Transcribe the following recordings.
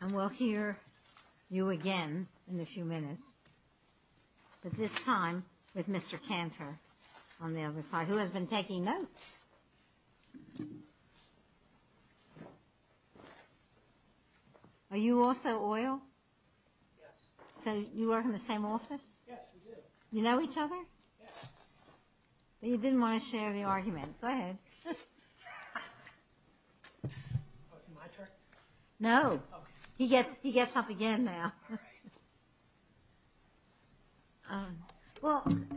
And we'll hear you again in a few minutes, but this time with Mr. Cantor on the other side, who has been taking notes. Are you also oil? Yes. So you work in the same office? Yes, we do. You know each other? Yes. You didn't want to share the argument. Go ahead. It's my turn? No. He gets up again now.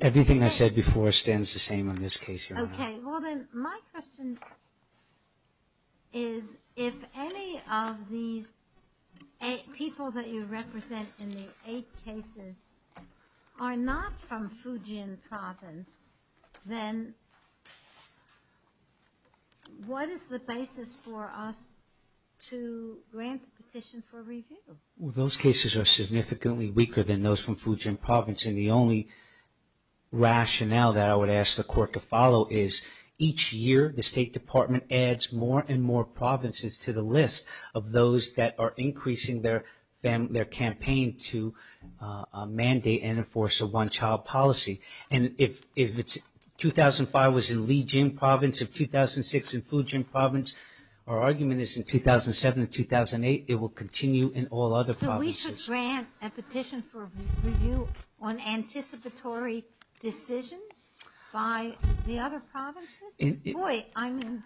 Everything I said before stands the same in this case. Okay, well then my question is if any of these people that you represent in the eight cases are not from Fujian Province, then what is the basis for us to grant the petition for review? Those cases are significantly weaker than those from Fujian Province, and the only rationale that I would ask the court to follow is each year the State Department adds more and more provinces to the list of those that are increasing their campaign to mandate and enforce a one-child policy. And if 2005 was in Lijian Province and 2006 in Fujian Province, our argument is in 2007 and 2008 it will continue in all other provinces. So we should grant a petition for review on anticipatory decisions by the other provinces? Boy, I mean,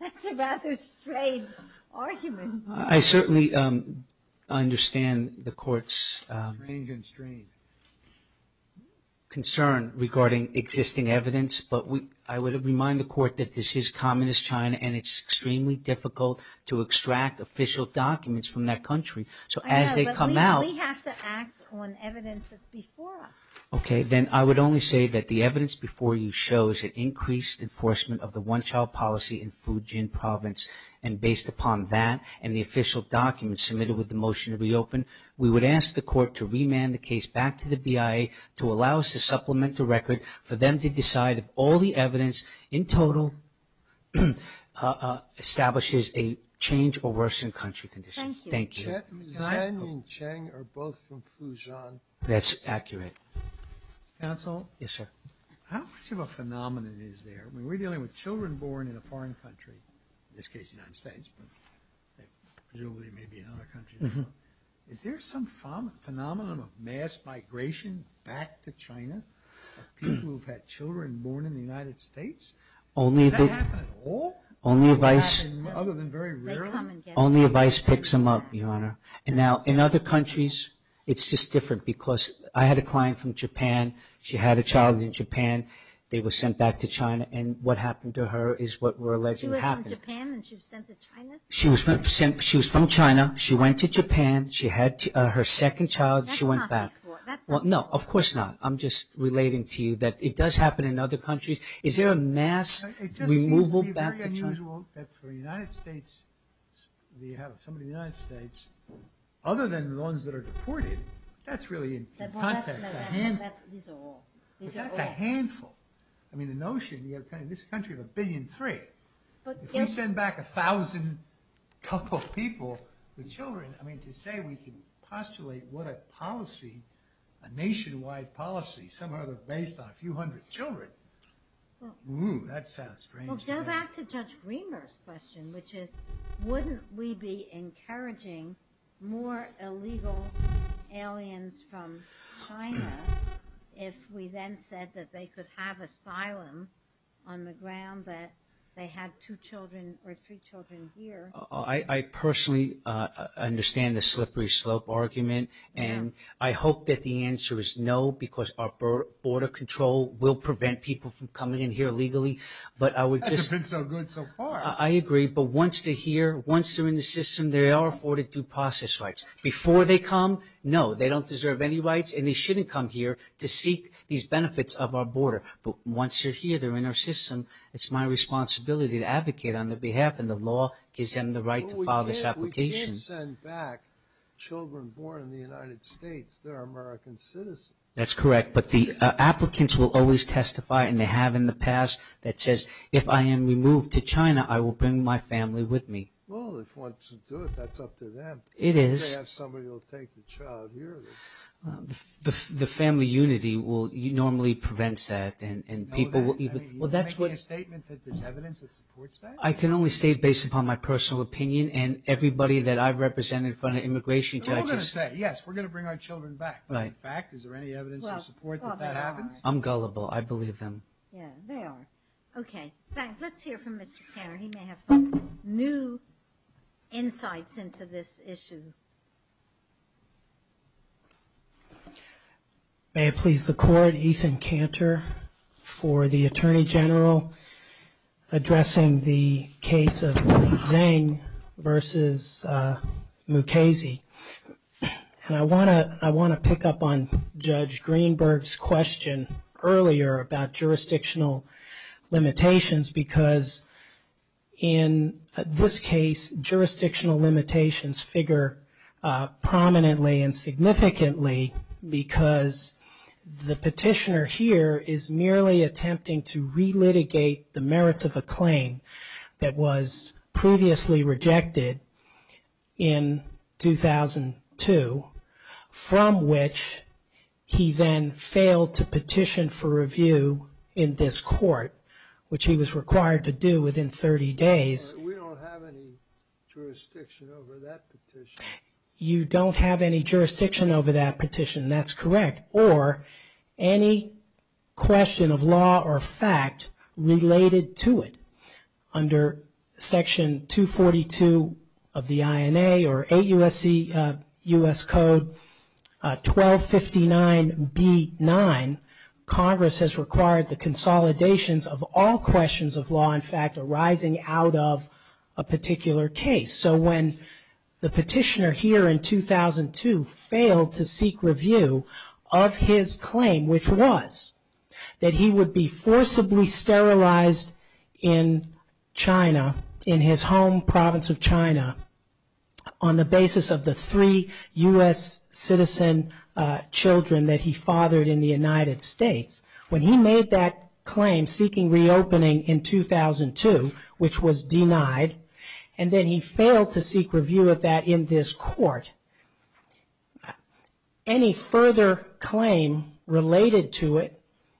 that's a rather strange argument. I certainly understand the court's... concern regarding existing evidence, but I would remind the court that this is communist China and it's extremely difficult to extract official documents from that country. So as they come out... I know, but we have to act on evidence that's before us. Okay, then I would only say that the evidence before you shows an increased enforcement of the one-child policy in Fujian Province, and based upon that and the official documents submitted with the motion to reopen, we would ask the court to remand the case back to the BIA to allow us to supplement the record for them to decide if all the evidence in total establishes a change or worsening country condition. Thank you. Chen and Cheng are both from Fujian. That's accurate. Counsel? Yes, sir. How much of a phenomenon is there? I mean, we're dealing with children born in a foreign country, in this case the United States, but presumably maybe in other countries as well. Is there some phenomenon of mass migration back to China of people who've had children born in the United States? Does that happen at all? Other than very rarely? And now in other countries, it's just different because I had a client from Japan. She had a child in Japan. They were sent back to China, and what happened to her is what we're alleging happened. She was from Japan and she was sent to China? She was from China. She went to Japan. She had her second child. She went back. That's not before. No, of course not. I'm just relating to you that it does happen in other countries. Is there a mass removal back to China? It just seems to be very unusual that for some of the United States, other than the ones that are deported, that's really in context. These are all. That's a handful. I mean, the notion in this country of a billion three. If we send back a thousand couple of people with children, I mean, to say we can postulate what a policy, a nationwide policy, somehow they're based on a few hundred children. That sounds strange. Well, go back to Judge Greenberg's question, which is wouldn't we be encouraging more illegal aliens from China if we then said that they could have asylum on the ground that they had two children or three children here? I personally understand the slippery slope argument, and I hope that the answer is no, because our border control will prevent people from coming in here legally. That's been so good so far. I agree, but once they're here, once they're in the system, they are afforded due process rights. Before they come, no, they don't deserve any rights, and they shouldn't come here to seek these benefits of our border. But once they're here, they're in our system, it's my responsibility to advocate on their behalf, and the law gives them the right to file this application. We can send back children born in the United States that are American citizens. That's correct, but the applicants will always testify, and they have in the past, that says, if I am removed to China, I will bring my family with me. Well, if they want to do it, that's up to them. It is. They have somebody who will take the child here. The family unity normally prevents that, and people will even... Are you making a statement that there's evidence that supports that? I can only state based upon my personal opinion, and everybody that I've represented in front of immigration judges... They're all going to say, yes, we're going to bring our children back. But in fact, is there any evidence to support that that happens? I'm gullible. I believe them. Yeah, they are. Okay. Let's hear from Mr. Cantor. He may have some new insights into this issue. May it please the Court, Ethan Cantor for the Attorney General addressing the case of Zeng versus Mukasey. And I want to pick up on Judge Greenberg's question earlier about jurisdictional limitations, because in this case jurisdictional limitations figure prominently and significantly because the petitioner here is merely attempting to relitigate the merits of a claim that was previously rejected in 2002, from which he then failed to petition for review in this court, which he was required to do within 30 days. We don't have any jurisdiction over that petition. You don't have any jurisdiction over that petition. That's correct. Or any question of law or fact related to it. Under Section 242 of the INA or 8 U.S. Code 1259B9, Congress has required the consolidations of all questions of law and fact arising out of a particular case. So when the petitioner here in 2002 failed to seek review of his claim, which was that he would be forcibly sterilized in China, in his home province of China, on the basis of the three U.S. citizen children that he fathered in the United States, when he made that claim seeking reopening in 2002, which was denied, and then he failed to seek review of that in this court, any further claim related to it,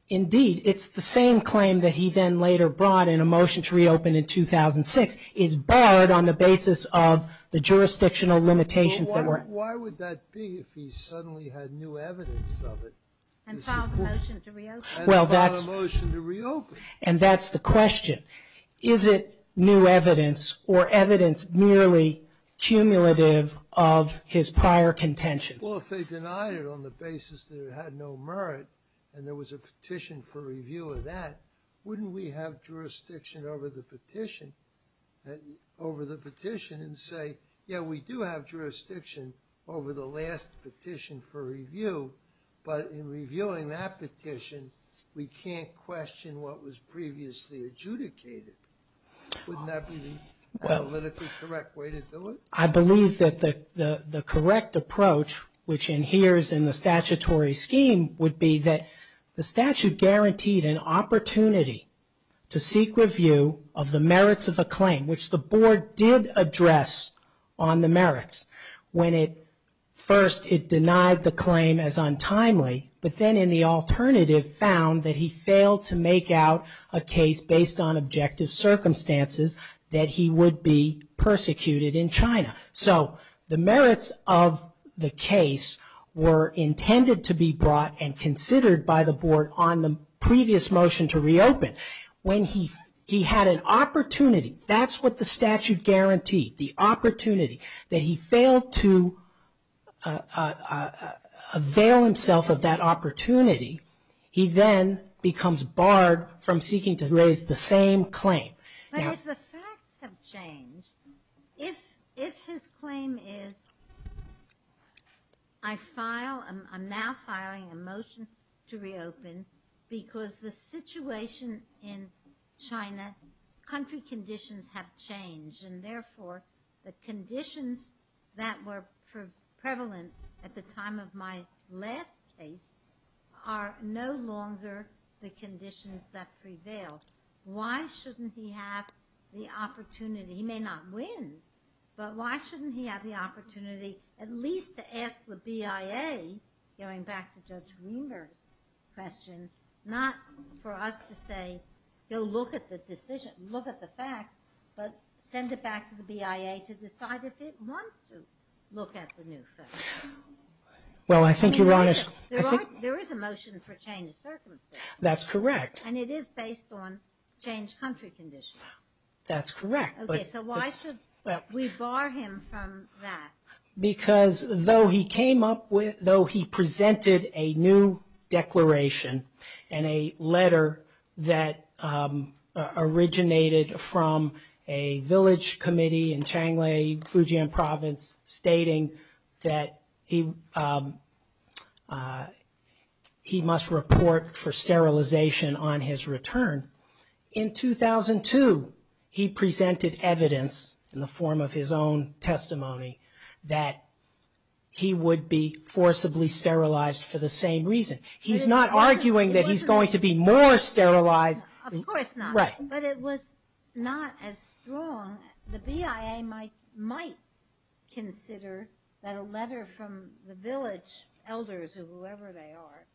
indeed, it's the same claim that he then later brought in a motion to reopen in 2006, is barred on the basis of the jurisdictional limitations. Why would that be if he suddenly had new evidence of it? And filed a motion to reopen. And that's the question. Is it new evidence or evidence merely cumulative of his prior contentions? Well, if they denied it on the basis that it had no merit and there was a petition for review of that, wouldn't we have jurisdiction over the petition and say, yeah, we do have jurisdiction over the last petition for review. But in reviewing that petition, we can't question what was previously adjudicated. Wouldn't that be the politically correct way to do it? I believe that the correct approach, which adheres in the statutory scheme, would be that the statute guaranteed an opportunity to seek review of the merits of a claim, which the board did address on the merits. First, it denied the claim as untimely, but then in the alternative, found that he failed to make out a case based on objective circumstances that he would be persecuted in China. So the merits of the case were intended to be brought and considered by the board on the previous motion to reopen. When he had an opportunity, that's what the statute guaranteed, the opportunity, that he failed to avail himself of that opportunity, he then becomes barred from seeking to raise the same claim. But if the facts have changed, if his claim is, I file, I'm now filing a motion to reopen because the situation in China, country conditions have changed and therefore the conditions that were prevalent at the time of my last case are no longer the conditions that prevail. Why shouldn't he have the opportunity? He may not win, but why shouldn't he have the opportunity at least to ask the BIA, going back to Judge Greenberg's question, not for us to say, go look at the decision, look at the facts, but send it back to the BIA to decide if it wants to look at the new facts. There is a motion for change of circumstances. That's correct. And it is based on changed country conditions. That's correct. So why should we bar him from that? Because though he presented a new declaration and a letter that originated from a village committee in Changli, Fujian Province, stating that he must report for sterilization on his return, in 2002 he presented evidence in the form of his own testimony that he would be forcibly sterilized for the same reason. He's not arguing that he's going to be more sterilized. Of course not, but it was not as strong. The BIA might consider that a letter from the village elders or whoever they are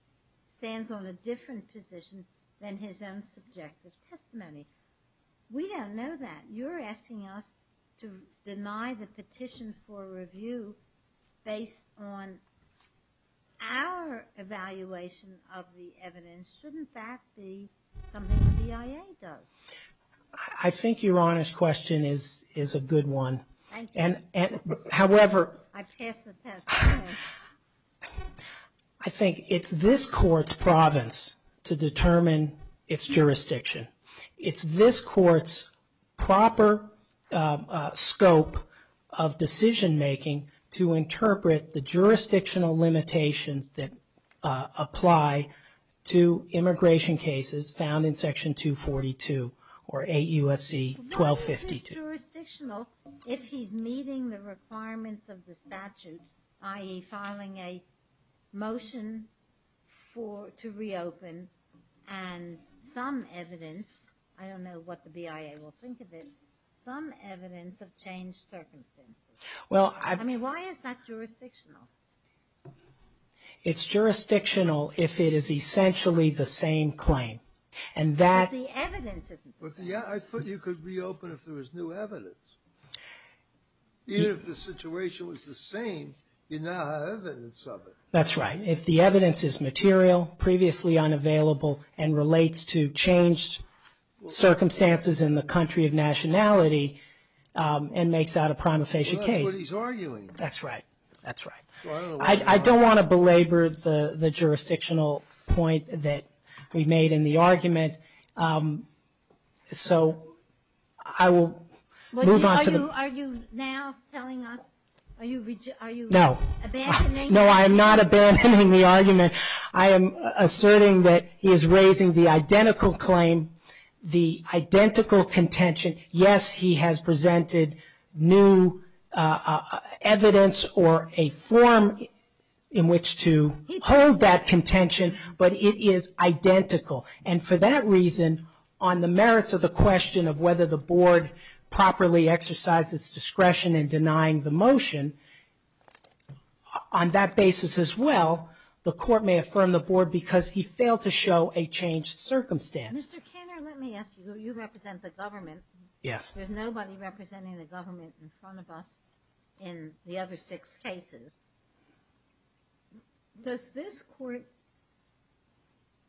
stands on a different position than his own subjective testimony. We don't know that. You're asking us to deny the petition for review based on our evaluation of the evidence. Shouldn't that be something the BIA does? I think your honest question is a good one. I think it's this court's province to determine its jurisdiction. It's this court's proper scope of decision making to interpret the jurisdictional limitations that apply to immigration cases found in Section 242 or AUSC 1252. But what if he's jurisdictional if he's meeting the requirements of the statute, i.e. filing a motion to reopen and some evidence I don't know what the BIA will think of it, some evidence of changed circumstances. Why is that jurisdictional? It's jurisdictional if it is essentially the same claim. I thought you could reopen if there was new evidence. Even if the situation was the same, you now have evidence of it. That's right. If the evidence is material, previously unavailable, and relates to changed circumstances in the country of nationality and makes that a prima facie case. I don't want to belabor the jurisdictional point that we made in the argument. So I will move on to the... Are you now telling us, are you abandoning? No, I am not abandoning the argument. I am asserting that he is raising the identical claim, the identical contention. Yes, he has presented new evidence or a form in which to hold that contention, but it is identical, and for that reason, on the merits of the question of whether the board properly exercised its discretion in denying the motion, on that basis as well, the court may affirm the board because he failed to show a changed circumstance. Mr. Kenner, let me ask you. You represent the government. Yes. There's nobody representing the government in front of us in the other six cases. Does this court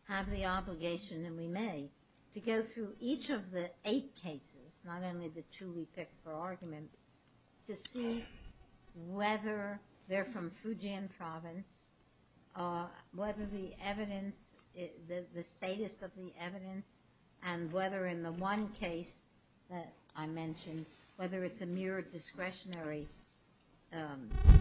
have the obligation, and we may, to go through each of the eight cases, not only the two we picked for argument, to see whether they're from Fujian province, whether the evidence, the status of the evidence, and whether in the one case that I mentioned, whether it's a mere discretionary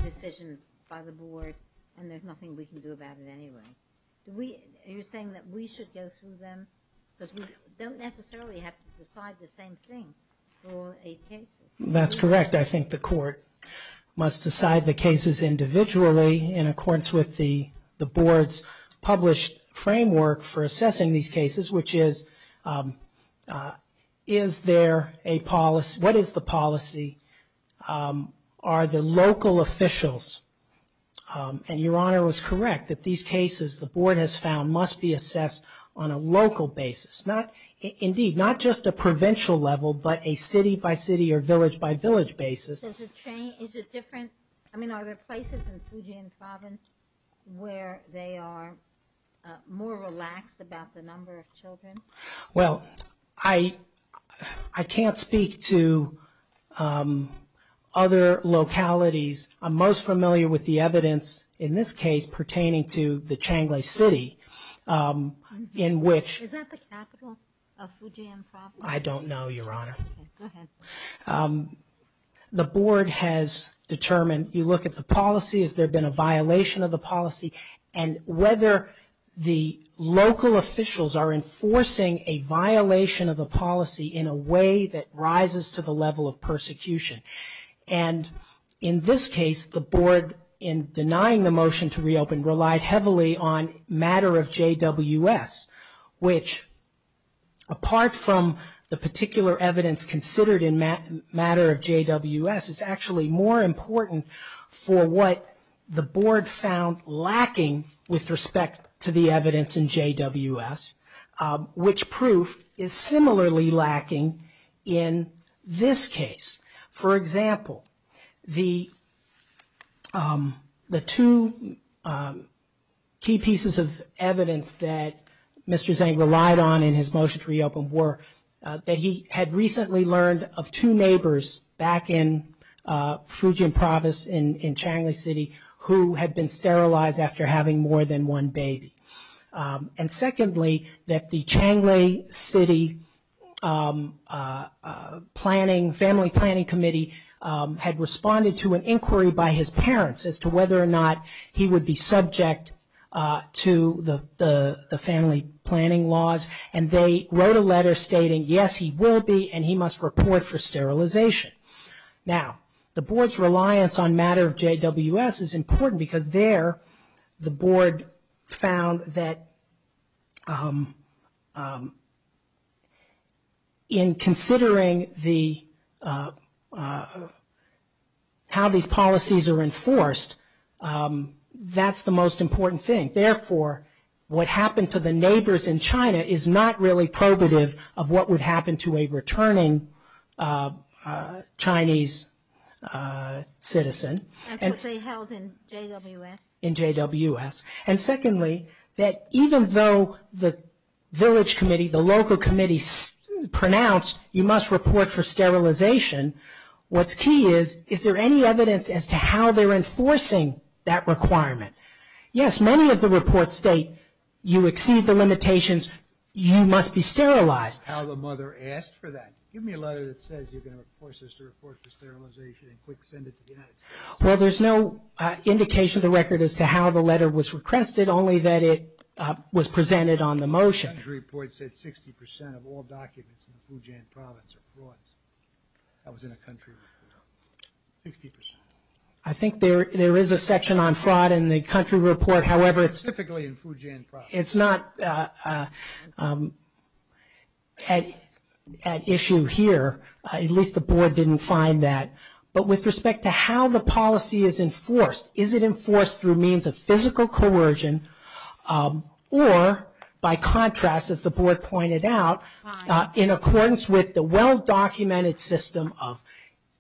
decision by the board, and there's nothing we can do about it anyway? Are you saying that we should go through them? Because we don't necessarily have to decide the same thing for all eight cases. That's correct. I think the court must decide the cases individually in accordance with the board's published framework for assessing these cases, which is, is there a policy, what is the policy, are the local officials, and Your Honor was correct, that these cases the board has found must be assessed on a local basis. Indeed, not just a provincial level, but a city-by-city or village-by-village basis. Is it different, I mean, are there places in Fujian province where they are more relaxed about the number of children? Well, I can't speak to other localities. I'm most familiar with the evidence in this case pertaining to the Changle City, in which... Is that the capital of Fujian province? I don't know, Your Honor. Okay, go ahead. The board has determined, you look at the policy, has there been a violation of the policy, and whether the local officials are enforcing a violation of the policy in a way that rises to the level of persecution. And in this case, the board, in denying the motion to reopen, relied heavily on matter of JWS, which, apart from the particular evidence considered in matter of JWS, is actually more important for what the board found lacking with respect to the evidence in JWS, which proof is similarly lacking in this case. For example, the two key pieces of evidence that Mr. Zhang relied on in his motion to reopen were that he had recently learned of two neighbors back in Fujian province in Changle City who had been sterilized after having more than one baby. And secondly, that the Changle City family planning committee had responded to an inquiry by his parents as to whether or not he would be subject to the family planning laws, and they wrote a letter stating, yes, he will be, and he must report for sterilization. Now, the board's reliance on matter of JWS is important because there, the board found that in considering how these policies are enforced, that's the most important thing. And therefore, what happened to the neighbors in China is not really probative of what would happen to a returning Chinese citizen. And secondly, that even though the village committee, the local committee pronounced, you must report for sterilization, what's key is, is there any evidence as to how they're enforcing that requirement? Yes, many of the reports state you exceed the limitations. You must be sterilized. Well, there's no indication of the record as to how the letter was requested, only that it was presented on the motion. I think there is a section on fraud in the country report, however, it's not at issue here, at least the board didn't find that, but with respect to how the policy is enforced, is it enforced through means of physical coercion or by contrast, as the board pointed out, in accordance with the well-documented system of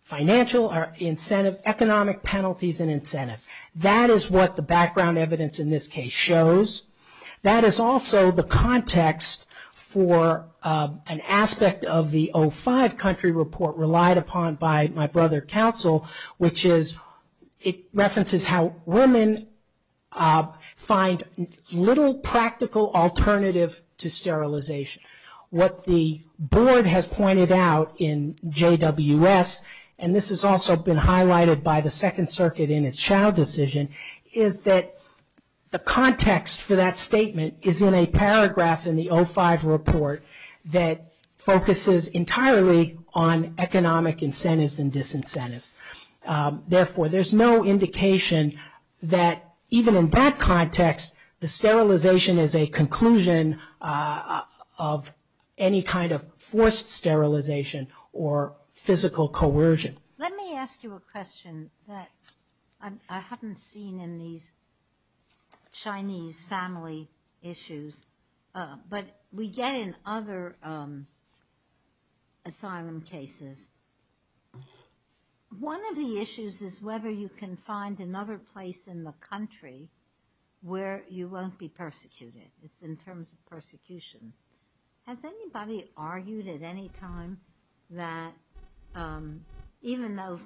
financial incentives, economic penalties and incentives. That is what the background evidence in this case shows. That is also the context for an aspect of the 05 country report relied upon by my brother council, which is, it references how women find little practical alternative to sterilization. What the board has pointed out in JWS, and this has also been highlighted by the second circuit in its child decision, is that the context for that statement is in a paragraph in the 05 report that focuses entirely on economic incentives and disincentives. Therefore, there's no indication that even in that context, the sterilization is a conclusion of any kind of forced sterilization or physical coercion. Let me ask you a question that I haven't seen in these Chinese family issues, but we get in other asylum cases. One of the issues is whether you can find another place in the country where you won't be persecuted. It's in terms of persecution. Has anybody argued at any time that even though,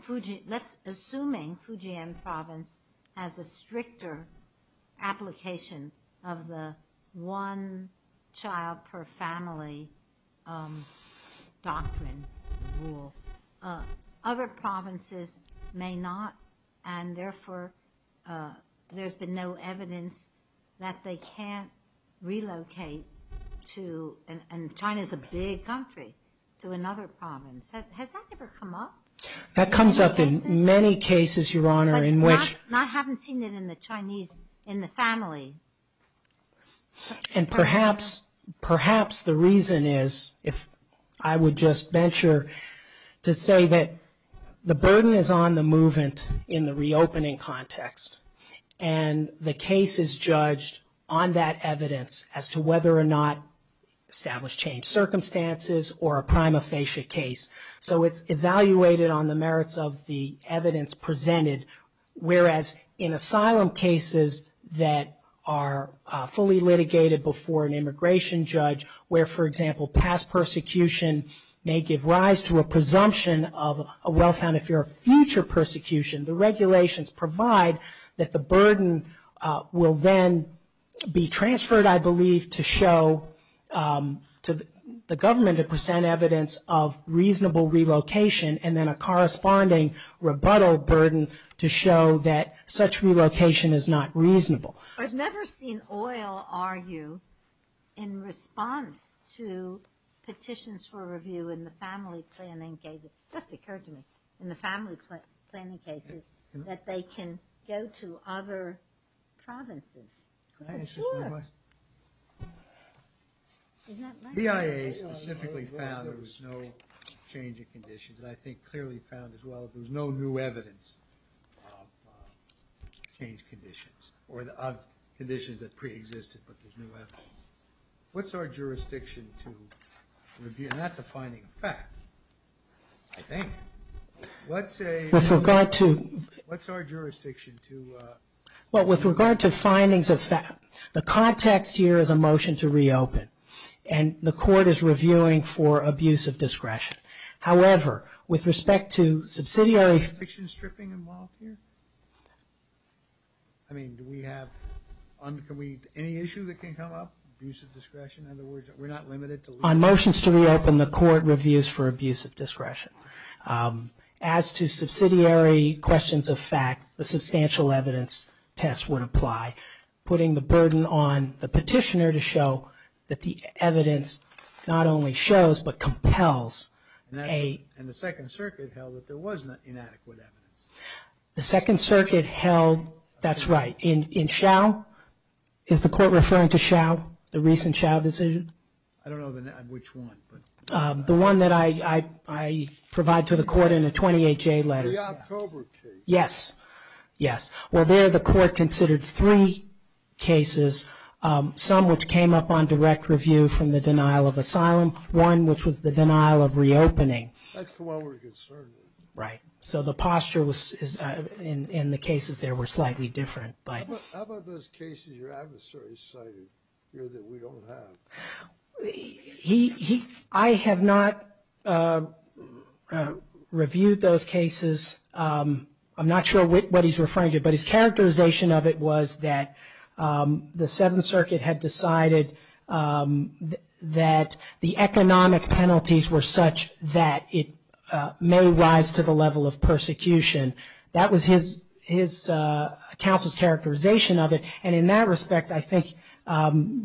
assuming Fujian province has a stricter application of the one child per family doctrine rule, other provinces may not, and therefore there's been no evidence that they can't relocate to, and China's a big country, to another province. Has that ever come up? I haven't seen it in the Chinese, in the family. And perhaps the reason is, if I would just venture to say that the burden is on the movement in the reopening context, and the case is judged on that evidence as to whether or not established changed circumstances or a prima facie case. So it's evaluated on the merits of the evidence presented, whereas in asylum cases that are fully litigated before an immigration judge, where, for example, past persecution may give rise to a presumption of a well-founded fear of future persecution, the regulations provide that the burden will then be transferred, I believe, to show, to the government to present evidence of reasonable relocation, and then a corresponding rebuttal burden to show that such relocation is not reasonable. I've never seen oil argue in response to petitions for review in the family planning cases, just occurred to me, in the family planning cases, that they can go to other provinces. Can I ask you a question? The BIA specifically found that there was no change in conditions, and I think clearly found as well that there was no new evidence of changed conditions, or of conditions that preexisted, but there's new evidence. What's our jurisdiction to review, and that's a finding of fact, I think. What's our jurisdiction to... Well, with regard to findings of fact, the context here is a motion to reopen, and the court is reviewing for abuse of discretion. However, with respect to subsidiary... I mean, do we have any issue that can come up, abuse of discretion? On motions to reopen, the court reviews for abuse of discretion. As to subsidiary questions of fact, the substantial evidence test would apply, putting the burden on the petitioner to show that the evidence not only shows, but compels a... And the Second Circuit held that there was inadequate evidence. The Second Circuit held... That's right. In Schau, is the court referring to Schau, the recent Schau decision? I don't know which one, but... The one that I provide to the court in a 28-J letter. The October case. Yes, yes. Well, there the court considered three cases, some which came up on direct review from the denial of asylum, one which was the denial of reopening. That's the one we're concerned with. Right. So the posture in the cases there were slightly different. How about those cases your adversary cited here that we don't have? I have not reviewed those cases. I'm not sure what he's referring to, but his characterization of it was that the Seventh Circuit had decided that the economic penalties were such that it may rise to the level of persecution. That was his counsel's characterization of it. And in that respect, I think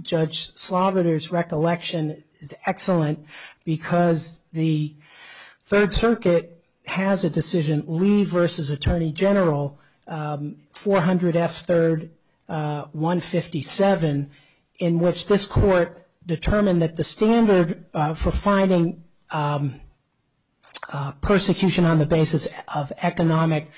Judge Slaviter's recollection is excellent because the Third Circuit has a decision, Lee versus Attorney General, 400 F. 3rd 157, in which this court determined that the standard of economic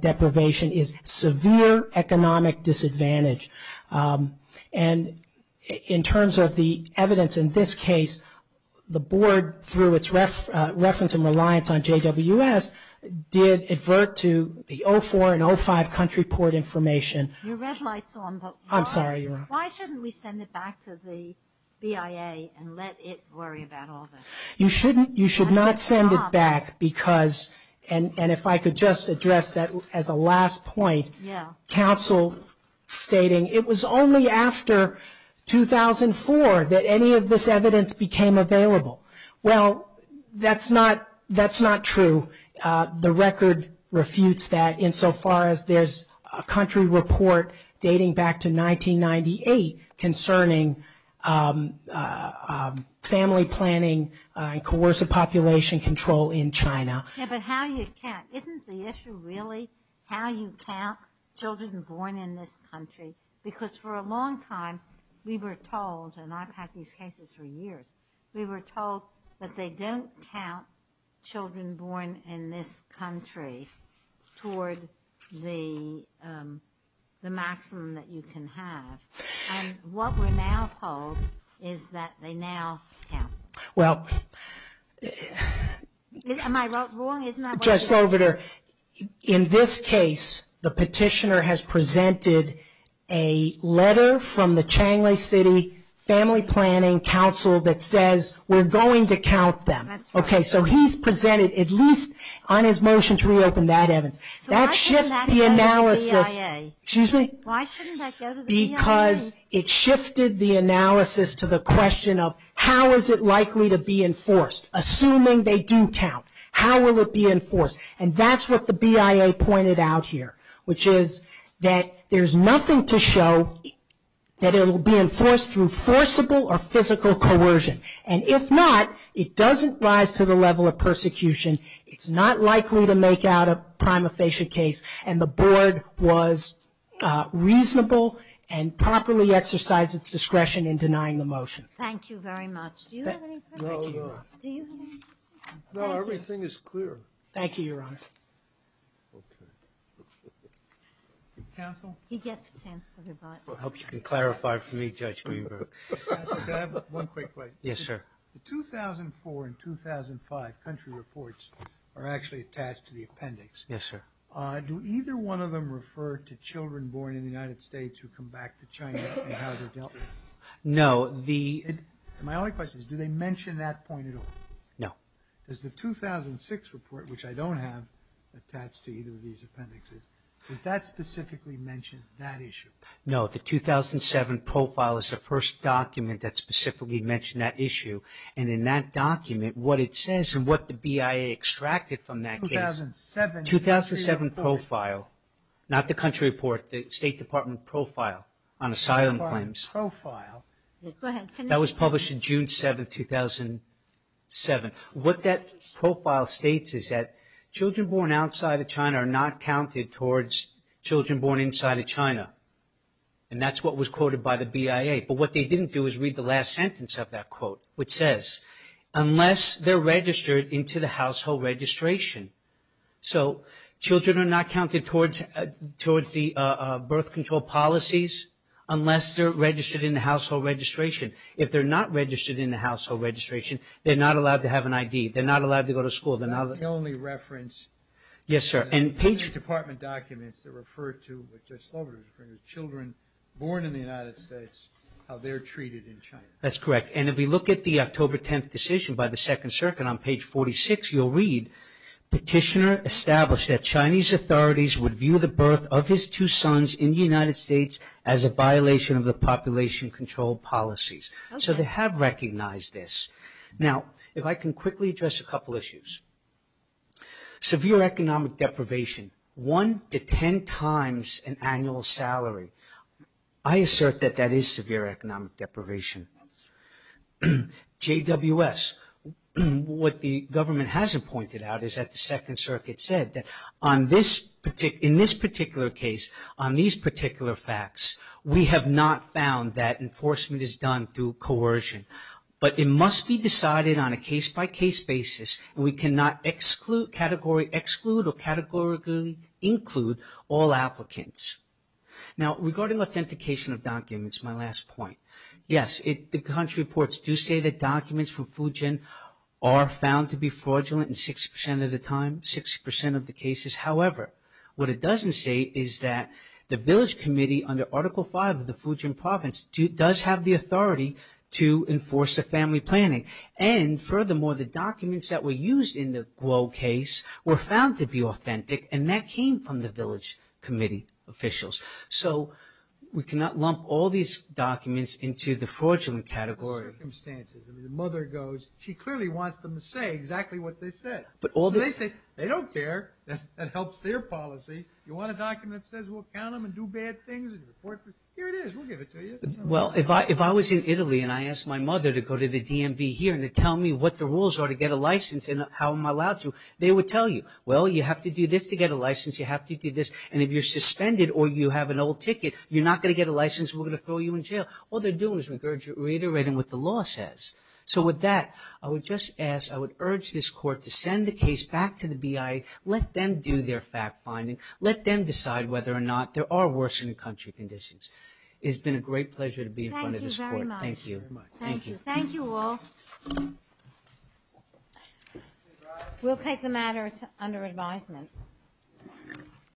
deprivation is severe economic disadvantage. And in terms of the evidence in this case, the board, through its reference and reliance on JWS, did advert to the 04 and 05 country port information. Your red light's on, but why shouldn't we send it back to the BIA and let it worry about all this? You should not send it back because, and if I could just address that as a last point, counsel stating it was only after 2004 that any of this evidence became available. Well, that's not true. The record refutes that insofar as there's a country report dating back to 1998 concerning family planning and coercive population control in China. Yeah, but how you count, isn't the issue really how you count children born in this country? Because for a long time we were told, and I've had these cases for years, we were told that they don't count children born in this country toward the maximum that you can have. What we're now told is that they now count. Am I wrong? In this case, the petitioner has presented a letter from the Changli City Family Planning Council that says we're going to count them. So he's presented, at least on his motion to reopen that evidence. So why shouldn't that go to the BIA? Because it shifted the analysis to the question of how is it likely to be enforced? Assuming they do count, how will it be enforced? And that's what the BIA pointed out here, which is that there's nothing to show that it will be enforced through forcible or physical coercion. And if not, it doesn't rise to the level of persecution. It's not likely to make out a prima facie case. And the board was reasonable and properly exercised its discretion in denying the motion. Thank you very much. No, everything is clear. Thank you, Your Honor. Counsel? He gets a chance to rebut. I hope you can clarify for me, Judge Greenberg. Counsel, can I have one quick question? Yes, sir. The 2004 and 2005 country reports are actually attached to the appendix. Yes, sir. Do either one of them refer to children born in the United States who come back to China and how they're dealt with? My only question is, do they mention that point at all? No. Does the 2006 report, which I don't have attached to either of these appendixes, does that specifically mention that issue? No, the 2007 profile is the first document that specifically mentioned that issue. And in that document, what it says and what the BIA extracted from that case, 2007 profile, not the country report, the State Department profile on asylum claims. Go ahead. That was published in June 7, 2007. What that profile states is that children born outside of China are not counted towards children born inside of China. And that's what was quoted by the BIA. But what they didn't do is read the last sentence of that quote, which says, unless they're registered into the household registration. So children are not counted towards the birth control policies unless they're registered in the household registration. If they're not registered in the household registration, they're not allowed to have an ID. They're not allowed to go to school. That's the only reference in the State Department documents that refer to children born in the United States, how they're treated in China. That's correct. And if we look at the October 10th decision by the Second Circuit on page 46, you'll read, Petitioner established that Chinese authorities would view the birth of his two sons in the United States as a violation of the population control policies. So they have recognized this. Now, if I can quickly address a couple issues. Severe economic deprivation, one to ten times an annual salary. I assert that that is severe economic deprivation. JWS, what the government hasn't pointed out is that the Second Circuit said that in this particular case, on these particular facts, we have not found that enforcement is done through coercion. But it must be decided on a case-by-case basis, and we cannot exclude or categorically include all applicants. Now, regarding authentication of documents, my last point. Yes, the country reports do say that documents from Fujian are found to be fraudulent in 60% of the time, 60% of the cases. However, what it doesn't say is that the village committee under Article 5 of the Fujian Province does have the authority to enforce the family planning. And furthermore, the documents that were used in the Guo case were found to be authentic, and that came from the village committee officials. So we cannot lump all these documents into the fraudulent category. The circumstances. I mean, the mother goes, she clearly wants them to say exactly what they said. So they say, they don't care. That helps their policy. You want a document that says we'll count them and do bad things? Here it is, we'll give it to you. Well, if I was in Italy and I asked my mother to go to the DMV here and to tell me what the rules are to get a license and how I'm allowed to, they would tell you. Well, you have to do this to get a license, you have to do this. And if you're suspended or you have an old ticket, you're not going to get a license and we're going to throw you in jail. All they're doing is reiterating what the law says. So with that, I would just ask, I would urge this Court to send the case back to the BIA. Let them do their fact-finding. Let them decide whether or not there are worsening country conditions. It's been a great pleasure to be in front of this Court. Thank you.